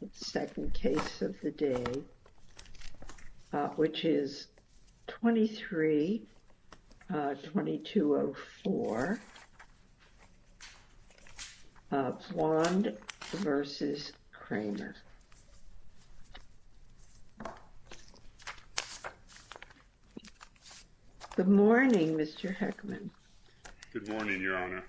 The second case of the day, which is 23-2204, Wand v. Kramer. Good morning, Mr. Heckman. Good morning, Your Honor.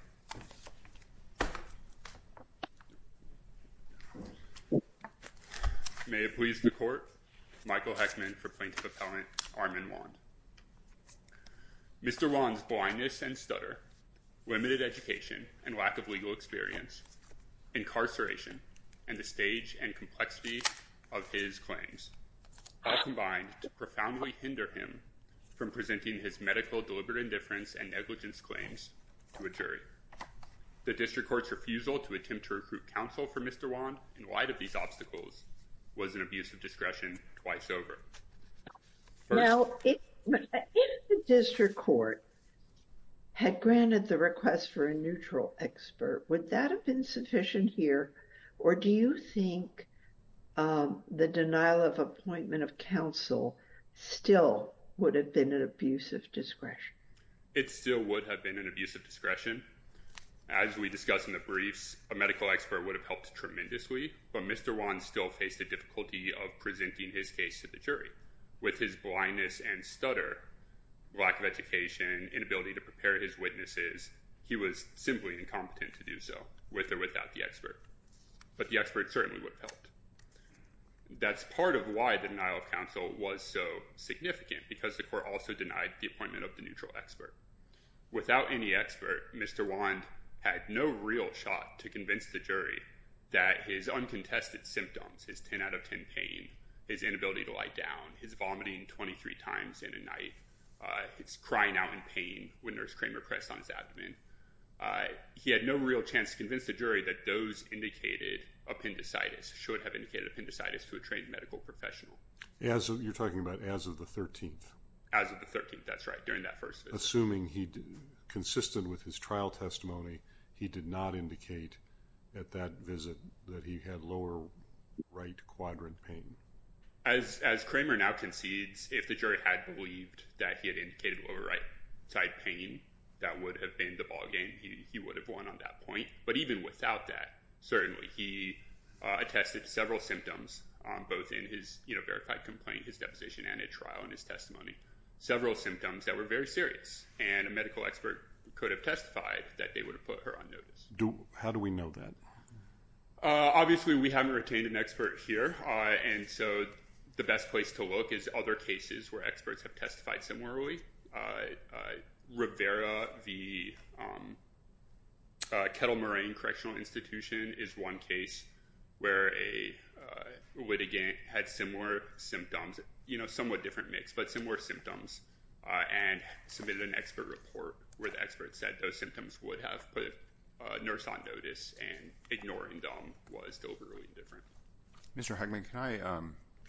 May it please the Court, Michael Heckman for Plaintiff Appellant Armin Wand. Mr. Wand's blindness and stutter, limited education and lack of legal experience, incarceration, and the stage and complexity of his claims, all combined to profoundly hinder him from presenting his medical deliberate indifference and negligence claims to a jury. The district court's refusal to attempt to recruit counsel for Mr. Wand in light of these obstacles was an abuse of discretion twice over. Now, if the district court had granted the request for a neutral expert, would that have been sufficient here, or do you think the denial of appointment of counsel still would have been an abuse of discretion? It still would have been an abuse of discretion. As we discussed in the briefs, a medical expert would have helped tremendously, but Mr. Wand still faced the difficulty of presenting his case to the jury. With his blindness and stutter, lack of education, inability to prepare his witnesses, he was simply incompetent to do so, with or without the expert. But the expert certainly would have helped. That's part of why the denial of counsel was so significant, because the court also denied the appointment of the neutral expert. Without any expert, Mr. Wand had no real shot to convince the jury that his uncontested symptoms, his 10 out of 10 pain, his inability to lie down, his vomiting 23 times in a night, his crying out in pain when Nurse Kramer pressed on his abdomen, he had no real chance to convince the jury that those indicated appendicitis should have indicated appendicitis to a trained medical professional. You're talking about as of the 13th? As of the 13th, that's right, during that first visit. Assuming consistent with his trial testimony, he did not indicate at that visit that he had lower right quadrant pain. As Kramer now concedes, if the jury had believed that he had indicated lower right side pain, that would have been the ballgame. He would have won on that point. But even without that, certainly, he attested to several symptoms, both in his verified complaint, his deposition, and a trial in his testimony, several symptoms that were very serious, and a medical expert could have testified that they would have put her on notice. How do we know that? Obviously, we haven't retained an expert here, and so the best place to look is other cases where experts have testified similarly, Rivera v. Kettle Moraine Correctional Institution is one case where a litigant had similar symptoms, somewhat different mix, but similar symptoms, and submitted an expert report where the expert said those symptoms would have put a nurse on notice, and ignoring them was still really different. Mr. Huckman, can I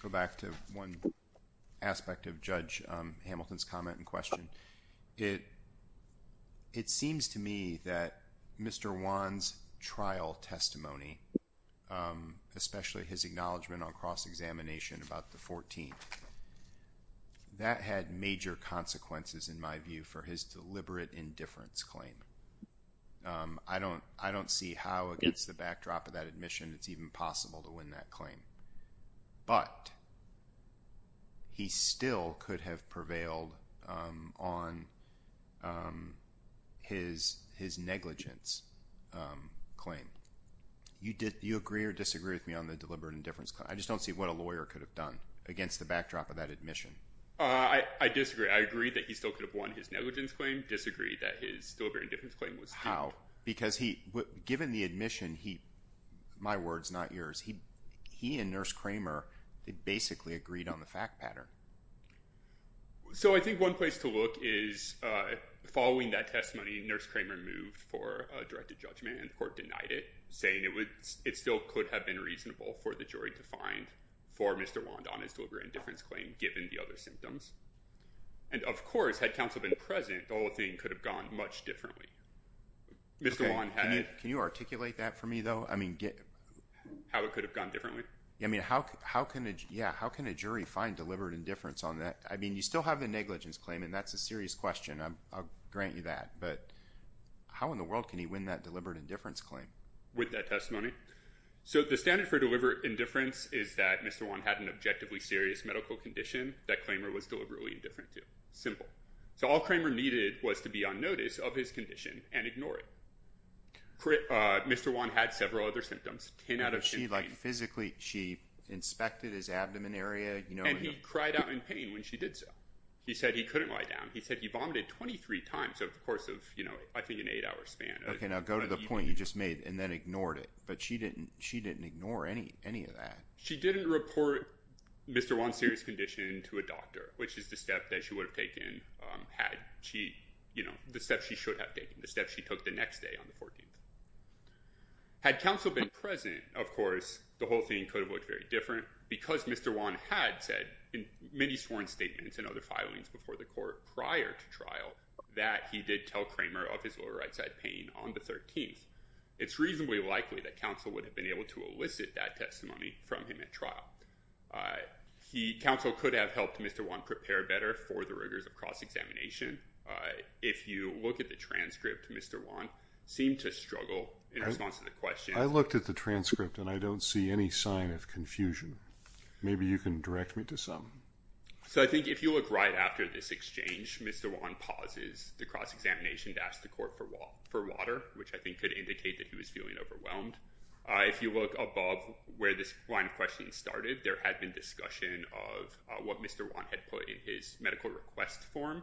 go back to one aspect of Judge Hamilton's comment and question? It seems to me that Mr. Wan's trial testimony, especially his acknowledgment on cross-examination about the 14th, that had major consequences, in my view, for his deliberate indifference claim. I don't see how, against the backdrop of that admission, it's even possible to win that claim, but he still could have prevailed on his negligence claim. Do you agree or disagree with me on the deliberate indifference claim? I just don't see what a lawyer could have done against the backdrop of that admission. I disagree. I agree that he still could have won his negligence claim, but I don't disagree that his deliberate indifference claim was due. How? Because given the admission, my words, not yours, he and Nurse Kramer basically agreed on the fact pattern. So I think one place to look is, following that testimony, Nurse Kramer moved for a directed judgment and the court denied it, saying it still could have been reasonable for the jury to find for Mr. Wan on his deliberate indifference claim, given the other symptoms. And of course, had counsel been present, the whole thing could have gone much differently. Can you articulate that for me, though? How it could have gone differently? How can a jury find deliberate indifference on that? I mean, you still have the negligence claim, and that's a serious question. I'll grant you that, but how in the world can he win that deliberate indifference claim? With that testimony? So the standard for deliberate indifference is that Mr. Wan had an objectively serious medical condition. That Kramer was deliberately indifferent to. Simple. So all Kramer needed was to be on notice of his condition and ignore it. Mr. Wan had several other symptoms. Ten out of ten pain. Physically, she inspected his abdomen area. And he cried out in pain when she did so. He said he couldn't lie down. He said he vomited 23 times over the course of, I think, an eight-hour span. Okay, now go to the point you just made and then ignored it. But she didn't ignore any of that. She didn't report Mr. Wan's serious condition to a doctor, which is the step that she would have taken had she, you know, the step she should have taken, the step she took the next day on the 14th. Had counsel been present, of course, the whole thing could have looked very different. Because Mr. Wan had said in many sworn statements and other filings before the court prior to trial, that he did tell Kramer of his lower right side pain on the 13th, it's reasonably likely that counsel would have been able to elicit that testimony from him at trial. Counsel could have helped Mr. Wan prepare better for the rigors of cross-examination. If you look at the transcript, Mr. Wan seemed to struggle in response to the question. I looked at the transcript and I don't see any sign of confusion. Maybe you can direct me to something. So I think if you look right after this exchange, Mr. Wan pauses the cross-examination to ask the court for water, which I think could indicate that he was feeling overwhelmed. If you look above where this line of questions started, there had been discussion of what Mr. Wan had put in his medical request form.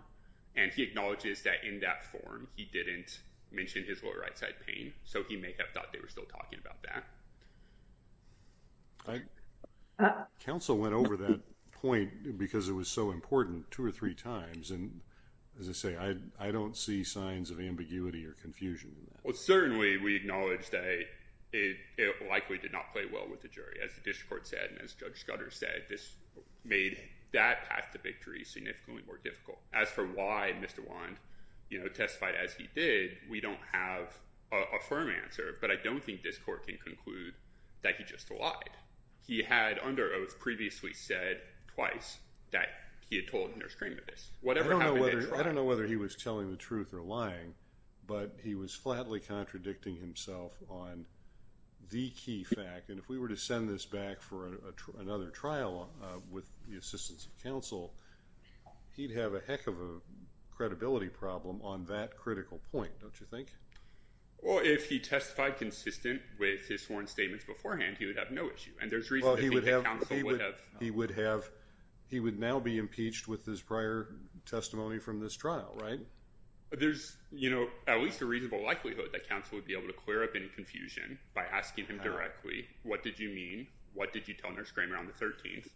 And he acknowledges that in that form, he didn't mention his lower right side pain. So he may have thought they were still talking about that. Counsel went over that point because it was so important two or three times. And as I say, I don't see signs of ambiguity or confusion. Well, certainly we acknowledge that it likely did not play well with the jury. As the district court said and as Judge Scudder said, this made that path to victory significantly more difficult. As for why Mr. Wan testified as he did, we don't have a firm answer. But I don't think this court can conclude that he just lied. He had under oath previously said twice that he had told Nurse Kramer this. I don't know whether he was telling the truth or lying, but he was flatly contradicting himself on the key fact. And if we were to send this back for another trial with the assistance of counsel, he'd have a heck of a credibility problem on that critical point, don't you think? Well, if he testified consistent with his sworn statements beforehand, he would have no issue. And there's reason to think that counsel would have. He would have. He would now be impeached with his prior testimony from this trial, right? There's, you know, at least a reasonable likelihood that counsel would be able to clear up any confusion by asking him directly. What did you mean? What did you tell Nurse Kramer on the 13th?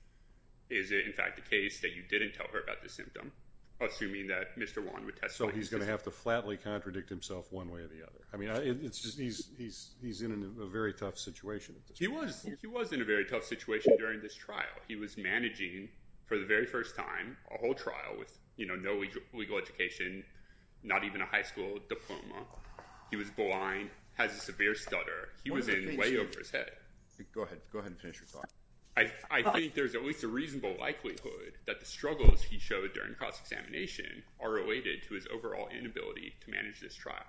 Is it in fact the case that you didn't tell her about the symptom, assuming that Mr. Kramer didn't flatly contradict himself one way or the other? I mean, he's in a very tough situation. He was in a very tough situation during this trial. He was managing for the very first time a whole trial with, you know, no legal education, not even a high school diploma. He was blind, has a severe stutter. He was in way over his head. Go ahead. Go ahead and finish your talk. I think there's at least a reasonable likelihood that the struggles he showed during cross-examination are related to his overall inability to manage this trial.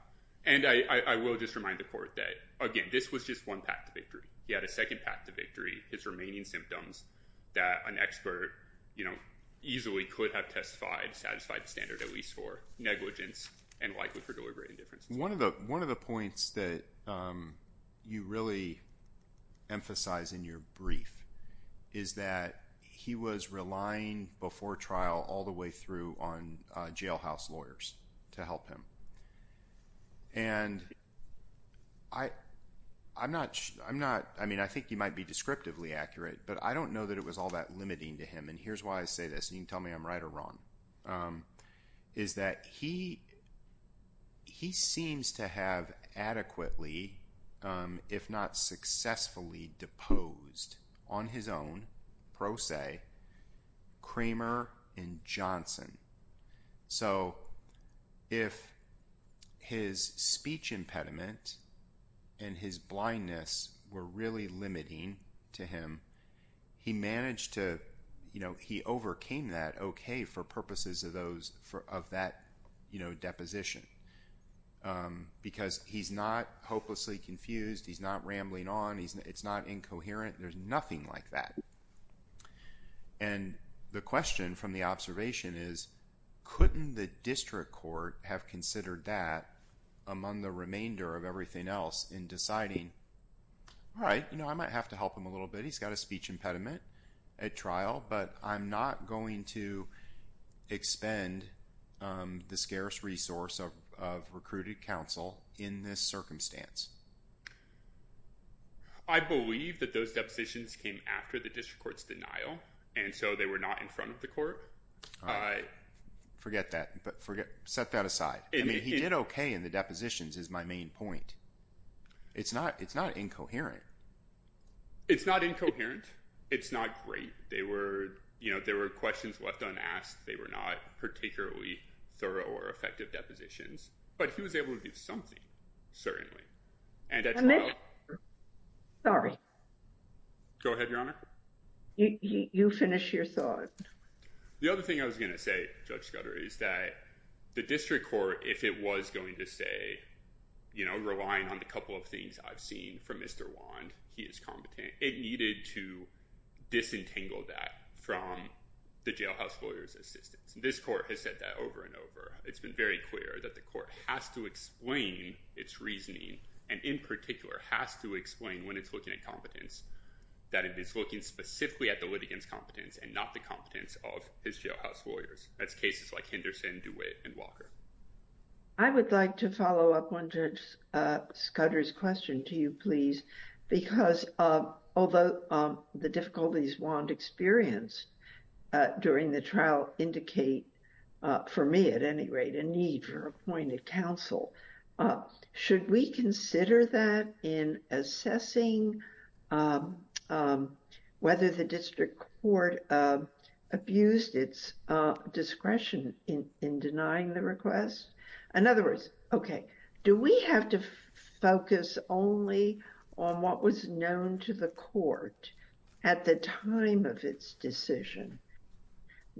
And I will just remind the court that, again, this was just one path to victory. He had a second path to victory. His remaining symptoms that an expert, you know, easily could have testified satisfied the standard at least for negligence and likely for deliberate indifference. One of the points that you really emphasize in your brief is that he was relying before trial all the way through on jailhouse lawyers to help him. And I'm not – I mean, I think he might be descriptively accurate, but I don't know that it was all that limiting to him. And here's why I say this, and you can tell me I'm right or wrong, is that he seems to have adequately, if not successfully, deposed on his own, pro se, Kramer and Johnson. So, if his speech impediment and his blindness were really limiting to him, he managed to, you know, he overcame that okay for purposes of that, you know, deposition. Because he's not hopelessly confused, he's not rambling on, it's not incoherent, there's nothing like that. And the question from the observation is, couldn't the district court have considered that among the remainder of everything else in deciding, all right, you know, I might have to help him a little bit. He's got a speech impediment at trial, but I'm not going to expend the scarce resource of recruited counsel in this circumstance. I believe that those depositions came after the district court's denial, and so they were not in front of the court. Forget that. Set that aside. I mean, he did okay in the depositions is my main point. It's not incoherent. It's not incoherent. It's not great. They were, you know, there were questions left unasked. They were not particularly thorough or effective depositions, but he was able to do something. Certainly. And that's. Sorry. Go ahead, your honor. You finish your thought. The other thing I was going to say, Judge Scudder, is that the district court, if it was going to say, you know, relying on a couple of things I've seen from Mr. Wand, he is competent. It needed to disentangle that from the jailhouse lawyer's assistance. This court has said that over and over. It's been very clear that the court has to explain its reasoning, and in particular has to explain when it's looking at competence, that it is looking specifically at the litigants competence and not the competence of his jailhouse lawyers. That's cases like Henderson, DeWitt, and Walker. I would like to follow up on Judge Scudder's question to you, please, because although the difficulties Wand experienced during the trial indicate for me at any rate a need for appointed counsel, should we consider that in assessing whether the district court abused its discretion in denying the request? In other words, okay, do we have to focus only on what was known to the court at the time of its decision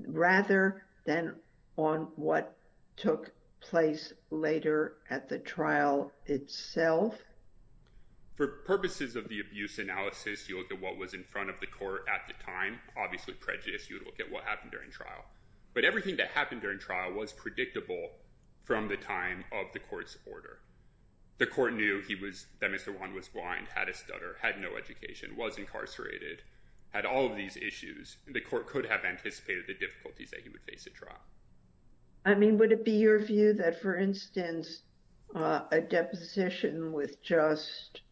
rather than on what took place later at the trial itself? For purposes of the abuse analysis, you look at what was in front of the court at the time, obviously prejudice, you look at what happened during trial, but everything that happened during trial was predictable from the time of the court's order. The court knew that Mr. Wand was blind, had a stutter, had no education, was incarcerated, had all of these issues. The court could have anticipated the difficulties that he would face at trial. I mean, would it be your view that, for instance, a deposition with just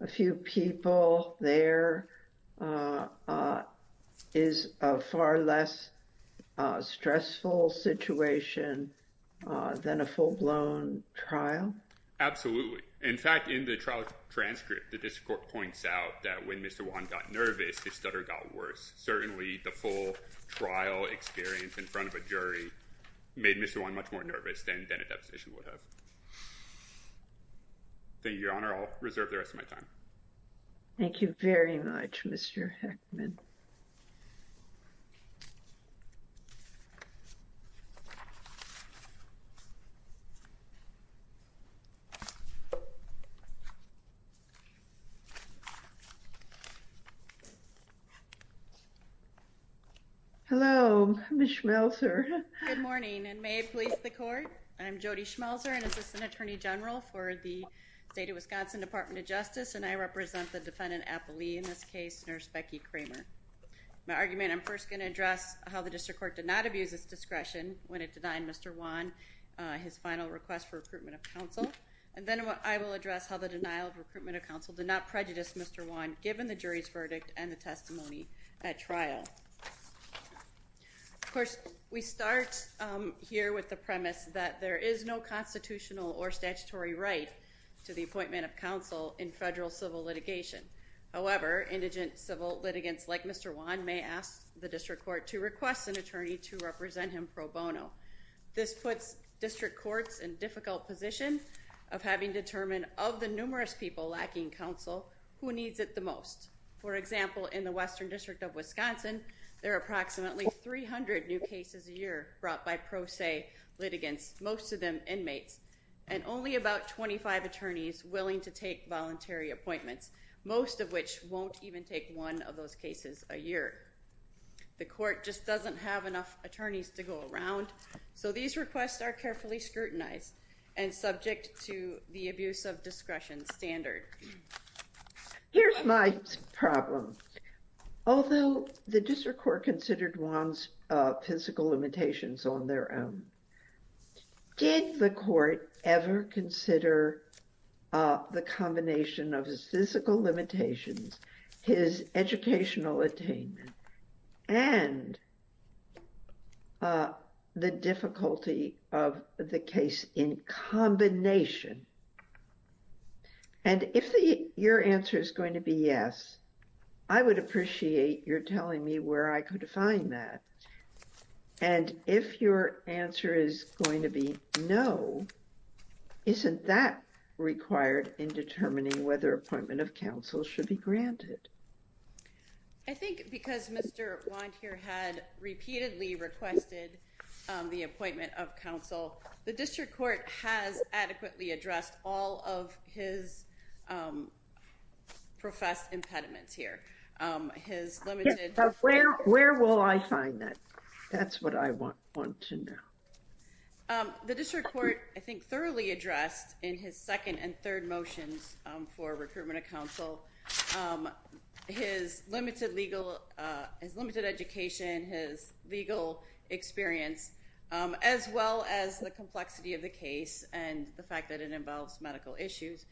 a few people there is a far less stressful situation than a full-blown trial? Absolutely. In fact, in the trial transcript, the district court points out that when Mr. Wand got nervous, his stutter got worse. Certainly the full trial experience in front of a jury made Mr. Wand much more nervous than a deposition would have. Thank you, Your Honor. I'll reserve the rest of my time. Thank you very much, Mr. Heckman. Hello, Ms. Schmelzer. Good morning, and may it please the court. I'm Jody Schmelzer, an Assistant Attorney General for the State of Wisconsin Department of Justice, and I represent the defendant, Apolli, in this case, Nurse Becky Kramer. In my argument, I'm first going to address how the district court did not abuse its discretion when it denied Mr. Wand his final request for recruitment of counsel. And then I will address how the denial of recruitment of counsel did not prejudice Mr. Wand, given the jury's verdict and the testimony at trial. Of course, we start here with the premise that there is no constitutional or statutory right to the appointment of counsel in federal civil litigation. However, indigent civil litigants like Mr. Wand may ask the district court to request an attorney to represent him pro bono. This puts district courts in a difficult position of having to determine, of the numerous people lacking counsel, who needs it the most. For example, in the Western District of Wisconsin, there are approximately 300 new cases a year brought by pro se litigants, most of them inmates, and only about 25 attorneys willing to take voluntary appointments, most of which won't even take one of those cases a year. The court just doesn't have enough attorneys to go around, so these requests are carefully scrutinized and subject to the abuse of discretion standard. Here's my problem. Although the district court considered Wand's physical limitations on their own, did the court ever consider the combination of his physical limitations, his educational attainment, and the difficulty of the case in combination? And if your answer is going to be yes, I would appreciate your telling me where I could find that. And if your answer is going to be no, isn't that required in determining whether appointment of counsel should be granted? I think because Mr. Wand here had repeatedly requested the appointment of counsel, the district court has adequately addressed all of his professed impediments here. Where will I find that? That's what I want to know. The district court, I think, thoroughly addressed in his second and third motions for recruitment of counsel his limited education, his legal experience, as well as the complexity of the case and the fact that it involves medical issues.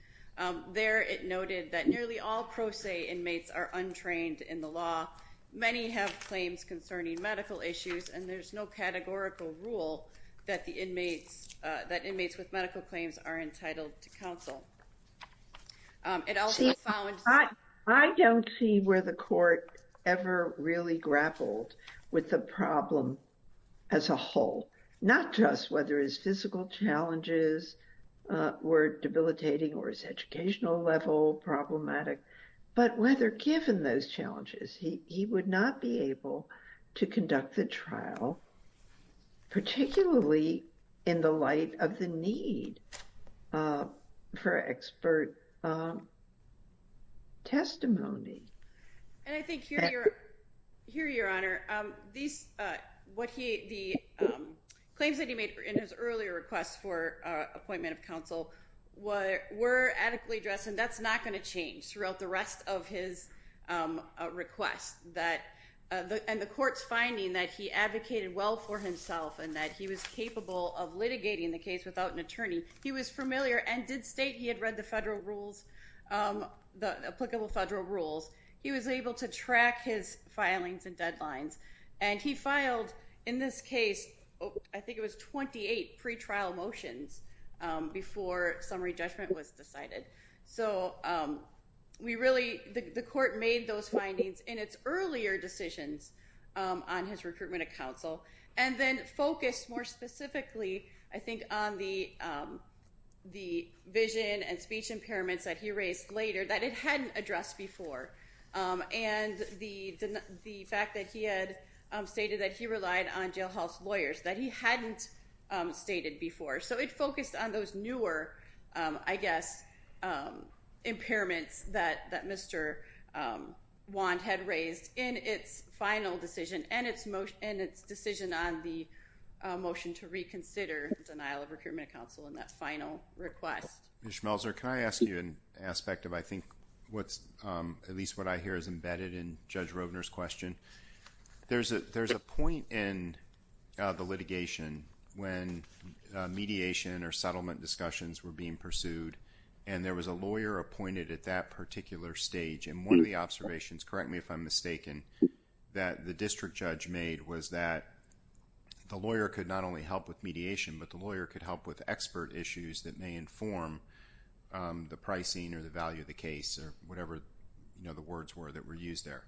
There it noted that nearly all pro se inmates are untrained in the law. Many have claims concerning medical issues, and there's no categorical rule that inmates with medical claims are entitled to counsel. I don't see where the court ever really grappled with the problem as a whole, not just whether his physical challenges were debilitating or his educational level problematic, but whether given those challenges, he would not be able to conduct the trial, particularly in the light of the need for expert testimony. And I think here, Your Honor, the claims that he made in his earlier request for appointment of counsel were adequately addressed, and that's not going to change throughout the rest of his request. And the court's finding that he advocated well for himself and that he was capable of litigating the case without an attorney, he was familiar and did state he had read the applicable federal rules. He was able to track his filings and deadlines. And he filed, in this case, I think it was 28 pretrial motions before summary judgment was decided. So the court made those findings in its earlier decisions on his recruitment of counsel and then focused more specifically, I think, on the vision and speech impairments that he raised later that it hadn't addressed before. And the fact that he had stated that he relied on jailhouse lawyers that he hadn't stated before. So it focused on those newer, I guess, impairments that Mr. Wand had raised in its final decision and its decision on the motion to reconsider denial of recruitment of counsel in that final request. Ms. Schmelzer, can I ask you an aspect of, I think, at least what I hear is embedded in Judge Roedner's question? There's a point in the litigation when mediation or settlement discussions were being pursued and there was a lawyer appointed at that particular stage and one of the observations, correct me if I'm mistaken, that the district judge made was that the lawyer could not only help with mediation, but the lawyer could help with expert issues that may inform the pricing or the value of the case or whatever the words were that were used there.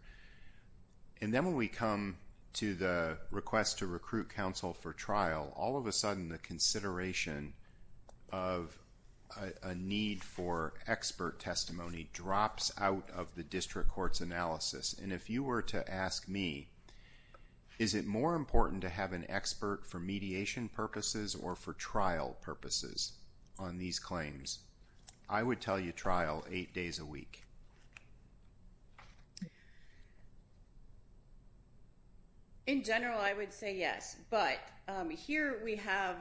And then when we come to the request to recruit counsel for trial, all of a sudden the consideration of a need for expert testimony drops out of the district court's analysis. And if you were to ask me, is it more important to have an expert for mediation purposes or for trial purposes on these claims? I would tell you trial eight days a week. In general, I would say yes. But here we have,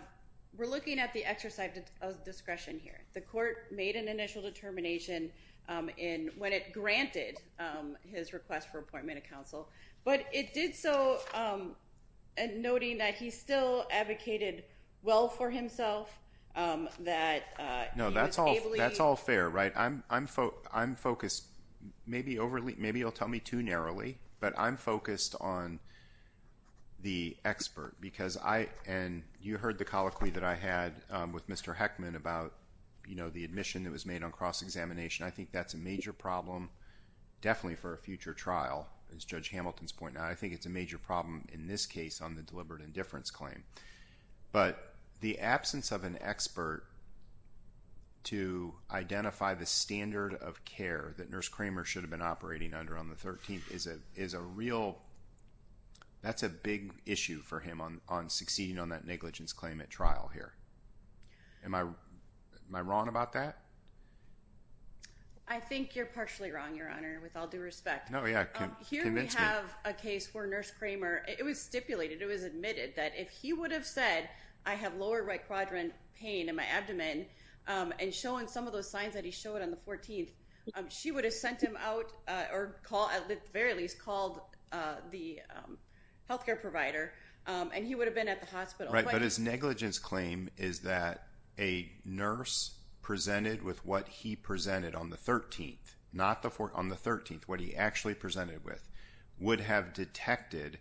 we're looking at the exercise of discretion here. The court made an initial determination when it granted his request for appointment of counsel, but it did so noting that he still advocated well for himself, that he was able to… Maybe you'll tell me too narrowly, but I'm focused on the expert. And you heard the colloquy that I had with Mr. Heckman about the admission that was made on cross-examination. I think that's a major problem definitely for a future trial, as Judge Hamilton's pointing out. I think it's a major problem in this case on the deliberate indifference claim. But the absence of an expert to identify the standard of care that Nurse Kramer should have been operating under on the 13th is a real… That's a big issue for him on succeeding on that negligence claim at trial here. Am I wrong about that? I think you're partially wrong, Your Honor, with all due respect. Here we have a case where Nurse Kramer, it was stipulated, it was admitted that if he would have said, I have lower right quadrant pain in my abdomen and showing some of those signs that he showed on the 14th, she would have sent him out or at the very least called the healthcare provider and he would have been at the hospital. But his negligence claim is that a nurse presented with what he presented on the 13th, not on the 14th, on the 13th, what he actually presented with, would have detected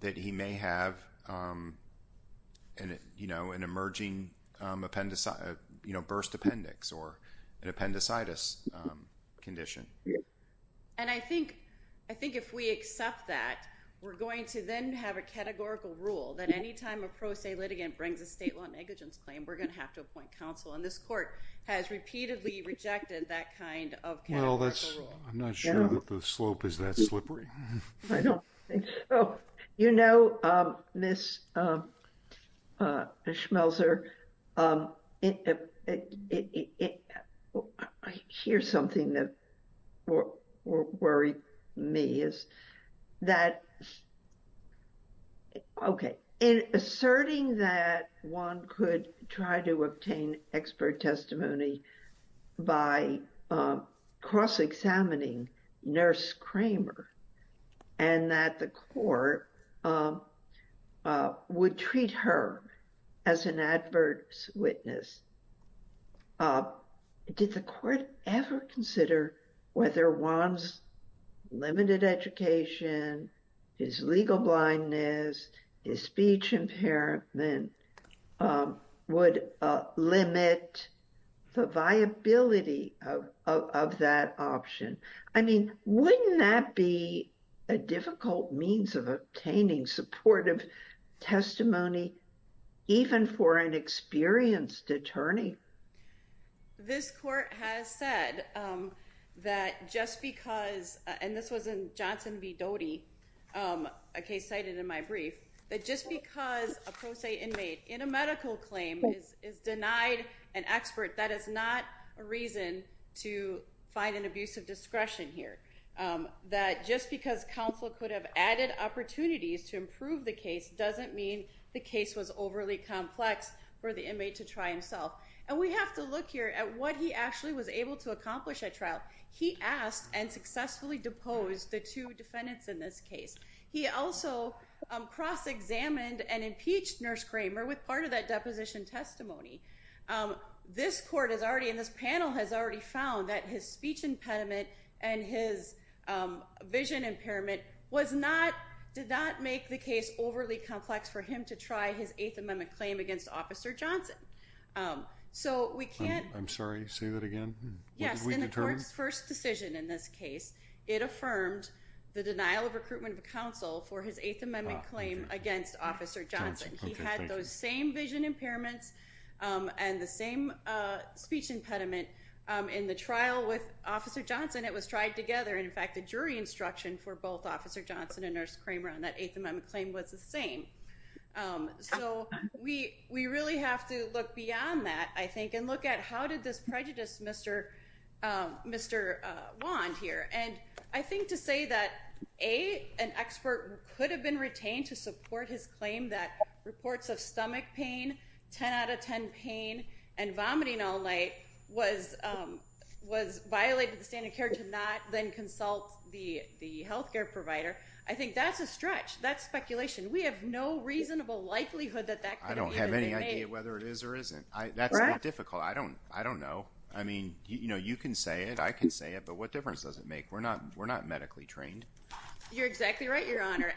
that he may have an emerging burst appendix or an appendicitis condition. And I think if we accept that, we're going to then have a categorical rule that any time a pro se litigant brings a state law negligence claim, we're going to have to appoint counsel. And this court has repeatedly rejected that kind of categorical rule. I'm not sure that the slope is that slippery. I don't think so. You know, Ms. Schmelzer, I hear something that worried me. Okay. Asserting that one could try to obtain expert testimony by cross-examining nurse Kramer and that the court would treat her as an adverse witness. Did the court ever consider whether one's limited education, his legal blindness, his speech impairment would limit the viability of that option? I mean, wouldn't that be a difficult means of obtaining supportive testimony even for an experienced attorney? This court has said that just because, and this was in Johnson v. Doty, a case cited in my brief, that just because a pro se inmate in a medical claim is denied an expert, that is not a reason to find an abusive discretion here. That just because counsel could have added opportunities to improve the case doesn't mean the case was overly complex for the inmate to try himself. And we have to look here at what he actually was able to accomplish at trial. He asked and successfully deposed the two defendants in this case. He also cross-examined and impeached nurse Kramer with part of that deposition testimony. This court and this panel has already found that his speech impediment and his vision impairment did not make the case overly complex for him to try his Eighth Amendment claim against Officer Johnson. I'm sorry, say that again? Yes, in the court's first decision in this case, it affirmed the denial of recruitment of counsel for his Eighth Amendment claim against Officer Johnson. He had those same vision impairments and the same speech impediment in the trial with Officer Johnson. It was tried together. In fact, the jury instruction for both Officer Johnson and Nurse Kramer on that Eighth Amendment claim was the same. So we really have to look beyond that, I think, and look at how did this prejudice Mr. Wand here. And I think to say that, A, an expert could have been retained to support his claim that reports of stomach pain, 10 out of 10 pain, and vomiting all night was violated the standard care to not then consult the health care provider. I think that's a stretch. That's speculation. We have no reasonable likelihood that that could have been made. I don't have any idea whether it is or isn't. That's not difficult. I don't know. I mean, you can say it. I can say it, but what difference does it make? We're not medically trained. You're exactly right, Your Honor.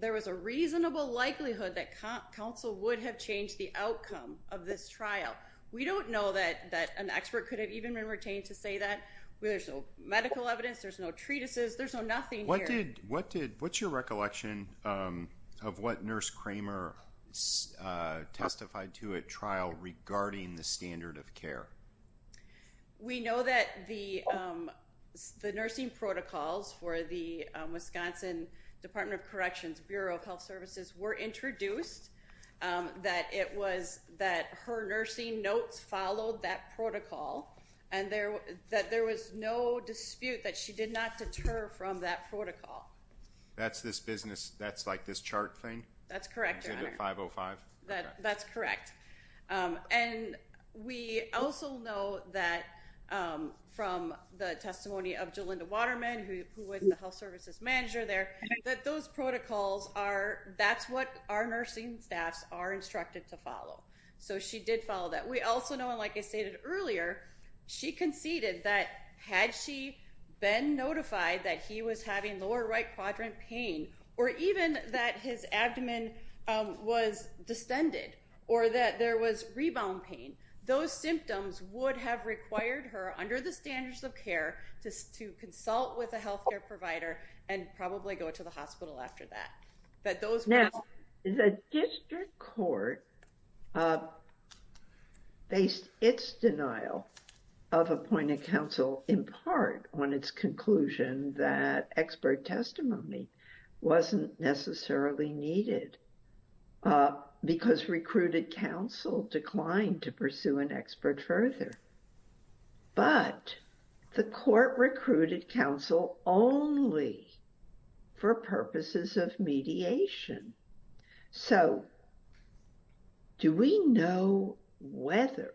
There is a reasonable likelihood that counsel would have changed the outcome of this trial. We don't know that an expert could have even been retained to say that. There's no medical evidence. There's no treatises. There's no nothing here. What's your recollection of what Nurse Kramer testified to at trial regarding the standard of care? We know that the nursing protocols for the Wisconsin Department of Corrections Bureau of Health Services were introduced, that her nursing notes followed that protocol, and that there was no dispute that she did not deter from that protocol. That's this business, that's like this chart thing? That's correct, Your Honor. That's correct. And we also know that from the testimony of Jolinda Waterman, who was the health services manager there, that her protocols are, that's what our nursing staffs are instructed to follow. So she did follow that. We also know, and like I stated earlier, she conceded that had she been notified that he was having lower right quadrant pain, or even that his abdomen was distended, or that there was rebound pain, those symptoms would have required her, under the standards of care, to consult with a health care provider and probably go to the hospital after that. Now, the district court based its denial of appointed counsel in part on its conclusion that expert testimony wasn't necessarily needed because recruited counsel declined to pursue an expert further. But the court recruited counsel only for purposes of mediation. So, do we know whether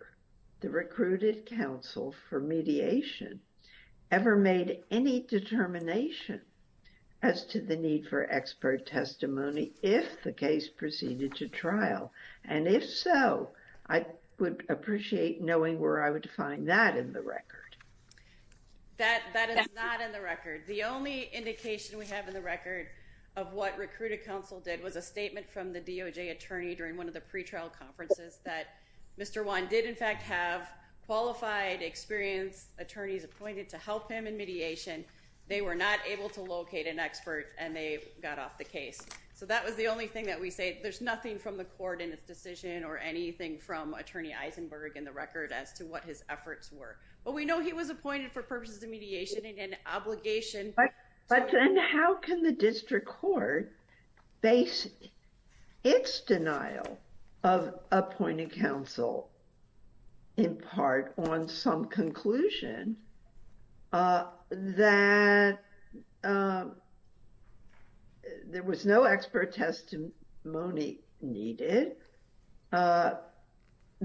the recruited counsel for mediation ever made any determination as to the need for expert testimony if the case proceeded to trial? And if so, I would appreciate knowing where I would find that in the record. That is not in the record. The only indication we have in the record of what recruited counsel did was a statement from the DOJ attorney during one of the pretrial conferences that Mr. Wan did in fact have qualified, experienced attorneys appointed to help him in mediation. They were not able to locate an expert and they got off the case. So that was the only thing that we say. There's nothing from the court in its decision or anything from Attorney Eisenberg in the record as to what his efforts were. But we know he was appointed for purposes of mediation and obligation. But then how can the district court base its denial of appointed counsel in part on some conclusion that there was no expert testimony needed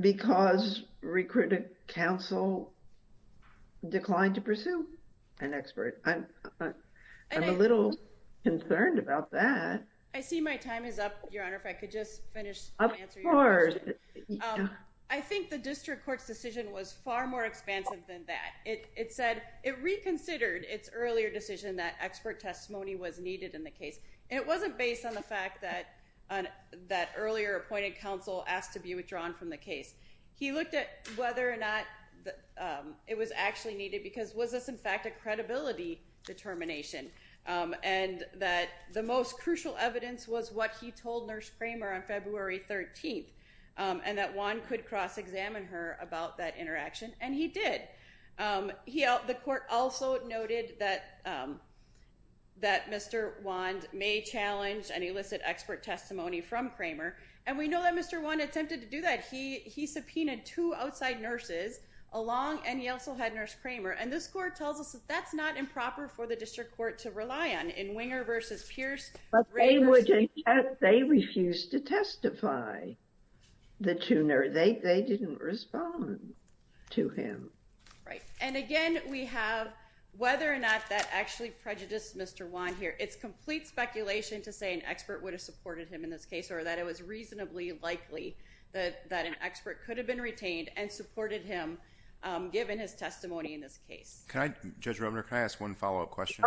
because recruited counsel declined to pursue an expert? I'm a little concerned about that. I see my time is up, Your Honor. If I could just finish and answer your question. Of course. I think the district court's decision was far more expansive than that. It said, it reconsidered its earlier decision that expert testimony was needed in the case. It wasn't based on the fact that earlier appointed counsel asked to be withdrawn from the case. He looked at whether or not it was actually needed because was this in fact a credibility determination and that the most crucial evidence was what he told Nurse Kramer on February 13th and that Wan could cross-examine her about that interaction and he did. The court also noted that Mr. Wan may challenge an illicit expert testimony from Kramer and we know that Mr. Wan attempted to do that. He subpoenaed two outside nurses along and he also had Nurse Kramer and this court tells us that that's not improper for the district court to rely on in Winger versus Pierce. But they refused to testify. They didn't respond to him. Right. And again, we have whether or not that actually prejudiced Mr. Wan here. It's complete speculation to say an expert would have supported him in this case or that it was reasonably likely that an expert could have been retained and supported him given his testimony in this case. Judge Robner, can I ask one follow-up question?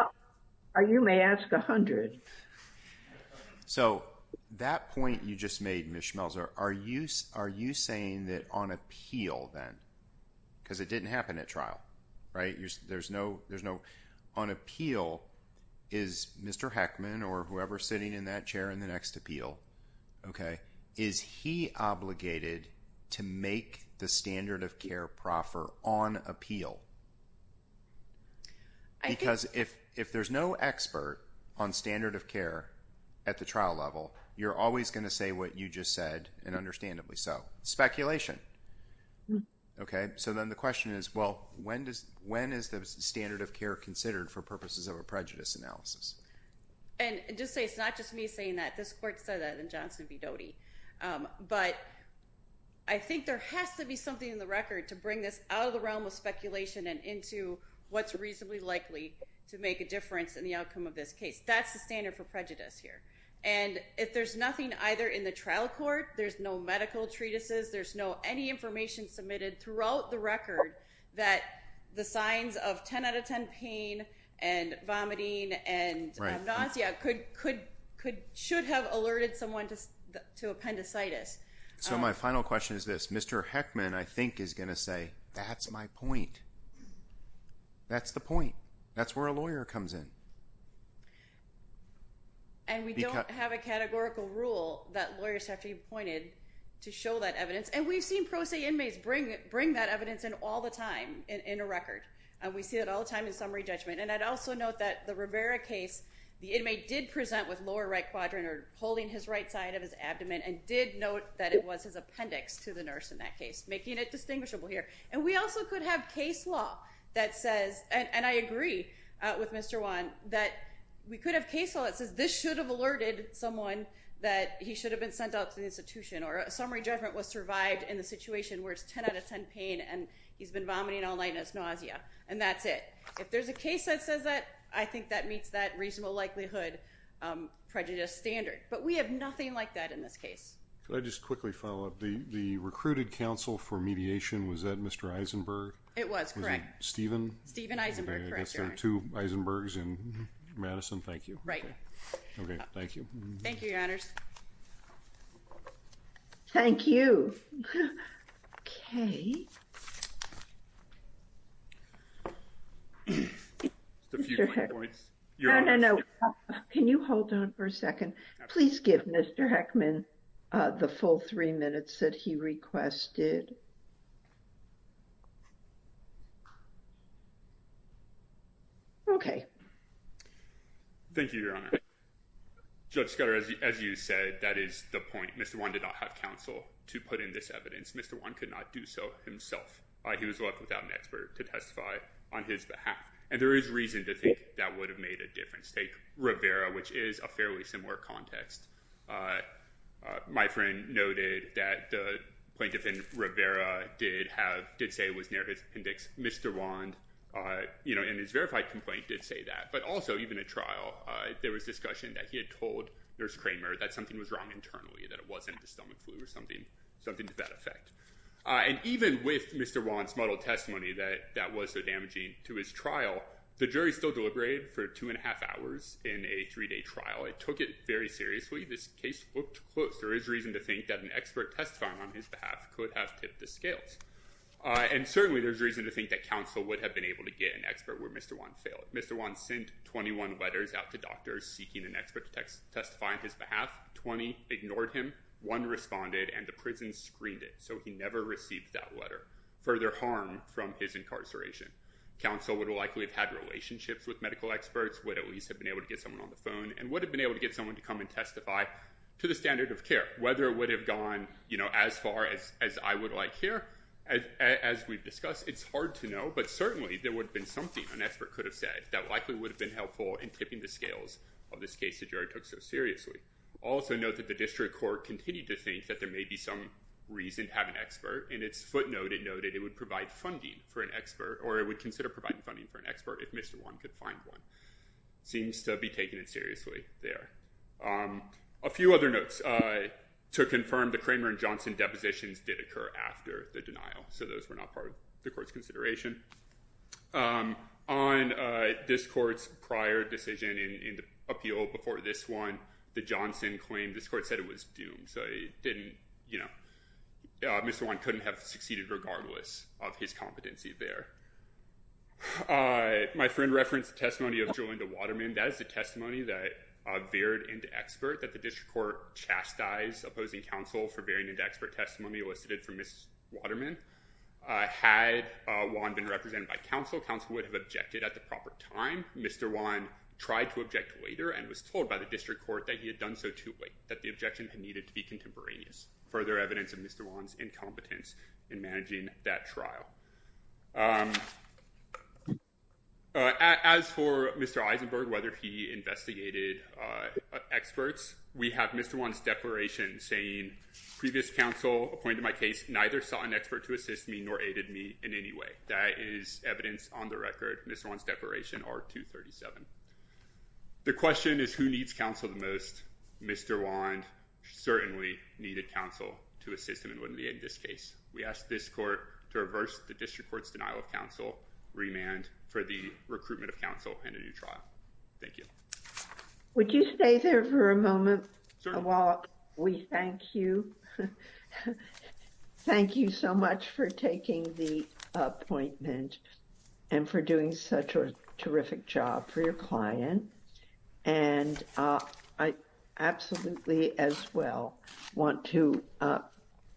You may ask a hundred. So, that point you just made Ms. Schmelzer, are you saying that on appeal then? Because it didn't happen at trial, right? On appeal, is Mr. Heckman or whoever is sitting in that chair in the next appeal, okay, is he obligated to make the standard of care proffer on appeal? Because if there's no expert on standard of care at the trial level, you're always going to say what you just said and understandably so. Speculation. Okay, so then the question is, well, when is the standard of care considered for purposes of a prejudice analysis? And just to say, it's not just me saying that, this court said that in Johnson v. Doty. But I think there has to be something in the record to bring this out of the realm of speculation and into what's reasonably likely to make a difference in the outcome of this case. That's the standard for prejudice here. And if there's nothing either in the trial court, there's no medical information submitted throughout the record that the signs of 10 out of 10 pain and vomiting and amnesia should have alerted someone to appendicitis. So my final question is this. Mr. Heckman, I think, is going to say, that's my point. That's the point. That's where a lawyer comes in. And we don't have a categorical rule that lawyers have to be appointed to show that evidence. But I think the inmates bring that evidence in all the time in a record. And we see it all the time in summary judgment. And I'd also note that the Rivera case, the inmate did present with lower right quadrant or holding his right side of his abdomen and did note that it was his appendix to the nurse in that case, making it distinguishable here. And we also could have case law that says, and I agree with Mr. Juan, that we could have case law that says this should have alerted someone that he should have been sent out to the institution or a patient where it's 10 out of 10 pain and he's been vomiting all night and it's nausea. And that's it. If there's a case that says that, I think that meets that reasonable likelihood prejudice standard. But we have nothing like that in this case. Can I just quickly follow up? The recruited counsel for mediation, was that Mr. Eisenberg? It was, correct. Was it Stephen? Stephen Eisenberg, correct, Your Honor. I guess there are two Eisenbergs in Madison. Thank you. Right. Okay, thank you. Thank you, Your Honors. Thank you. Okay. Mr. Heckman. No, no, no. Can you hold on for a second? Please give Mr. Heckman the full three minutes that he requested. Okay. Thank you, Your Honor. Judge Scudder, as you said, that is the point. Mr. Wand did not have counsel to put in this evidence. Mr. Wand could not do so himself. He was left without an expert to testify on his behalf. And there is reason to think that would have made a difference. Take Rivera, which is a fairly similar context. My friend noted that the plaintiff in Rivera did have, did say it was near his appendix. Mr. Wand, you know, in his verified complaint, did say that. But also, even at trial, there was discussion that he had told Nurse Kramer that something was wrong internally, that it wasn't a stomach flu or something to that effect. And even with Mr. Wand's model testimony that that was so damaging to his trial, the jury still deliberated for two and a half hours in a three-day trial. It took it very seriously. This case looked close. There is reason to think that an expert testifying on his behalf could have tipped the scales. There is reason to think that counsel would have been able to get an expert where Mr. Wand failed. Mr. Wand sent 21 letters out to doctors seeking an expert to testify on his behalf. Twenty ignored him. One responded, and the prison screened it. So he never received that letter. Further harm from his incarceration. Counsel would likely have had relationships with medical experts, would at least have been able to get someone on the phone, and would have been able to get someone to come and testify to the standard of care. Whether it would have gone, you know, as far as I would like here, as we've discussed, it's hard to know, but certainly, there would have been something an expert could have said that likely would have been helpful in tipping the scales of this case the jury took so seriously. Also note that the district court continued to think that there may be some reason to have an expert. In its footnote, it noted it would provide funding for an expert, or it would consider providing funding for an expert if Mr. Wand could find one. Seems to be taking it seriously there. A few other notes. To confirm, the Kramer and Johnson depositions did occur after the denial, so those were not part of the court's consideration. On this court's prior decision in the appeal before this one, the Johnson claim, this court said it was doomed, so it didn't, you know, Mr. Wand couldn't have succeeded regardless of his competency there. My friend referenced the testimony of Jo Linda Waterman. That is the testimony that veered into expert, that the district court chastised opposing counsel for veering into expert testimony elicited from Ms. Waterman. Had Wand been represented by counsel, counsel would have objected at the proper time. Mr. Wand tried to object later and was told by the district court that he had done so too late, that the objection had needed to be contemporaneous. Further evidence of Mr. Wand's incompetence in managing that trial. As for Mr. Eisenberg, whether he investigated experts, we have Mr. Wand's declaration saying, previous counsel appointed my case, neither sought an expert to assist me nor aided me in any way. That is evidence on the record. Mr. Wand's declaration, R237. The question is who needs counsel the most? Mr. Wand certainly needed counsel to assist him in winning this case. We ask this court to reverse the district court's denial of counsel, remand for the recruitment of counsel and a new trial. Thank you. Mr. Schmeltzer, while we thank you, thank you so much for taking the appointment and for doing such a terrific job for your client. And I absolutely as well want to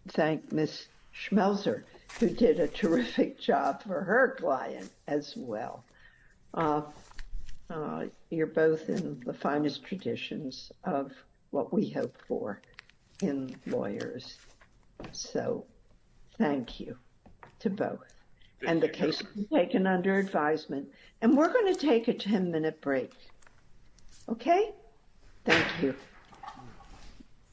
thank Ms. Schmeltzer who did a terrific job for her client as well. You're both in the finest traditions of what we hope for in lawyers. So thank you to both. And the case has been taken under advisement. And we're going to take a 10-minute break. Okay? Thank you.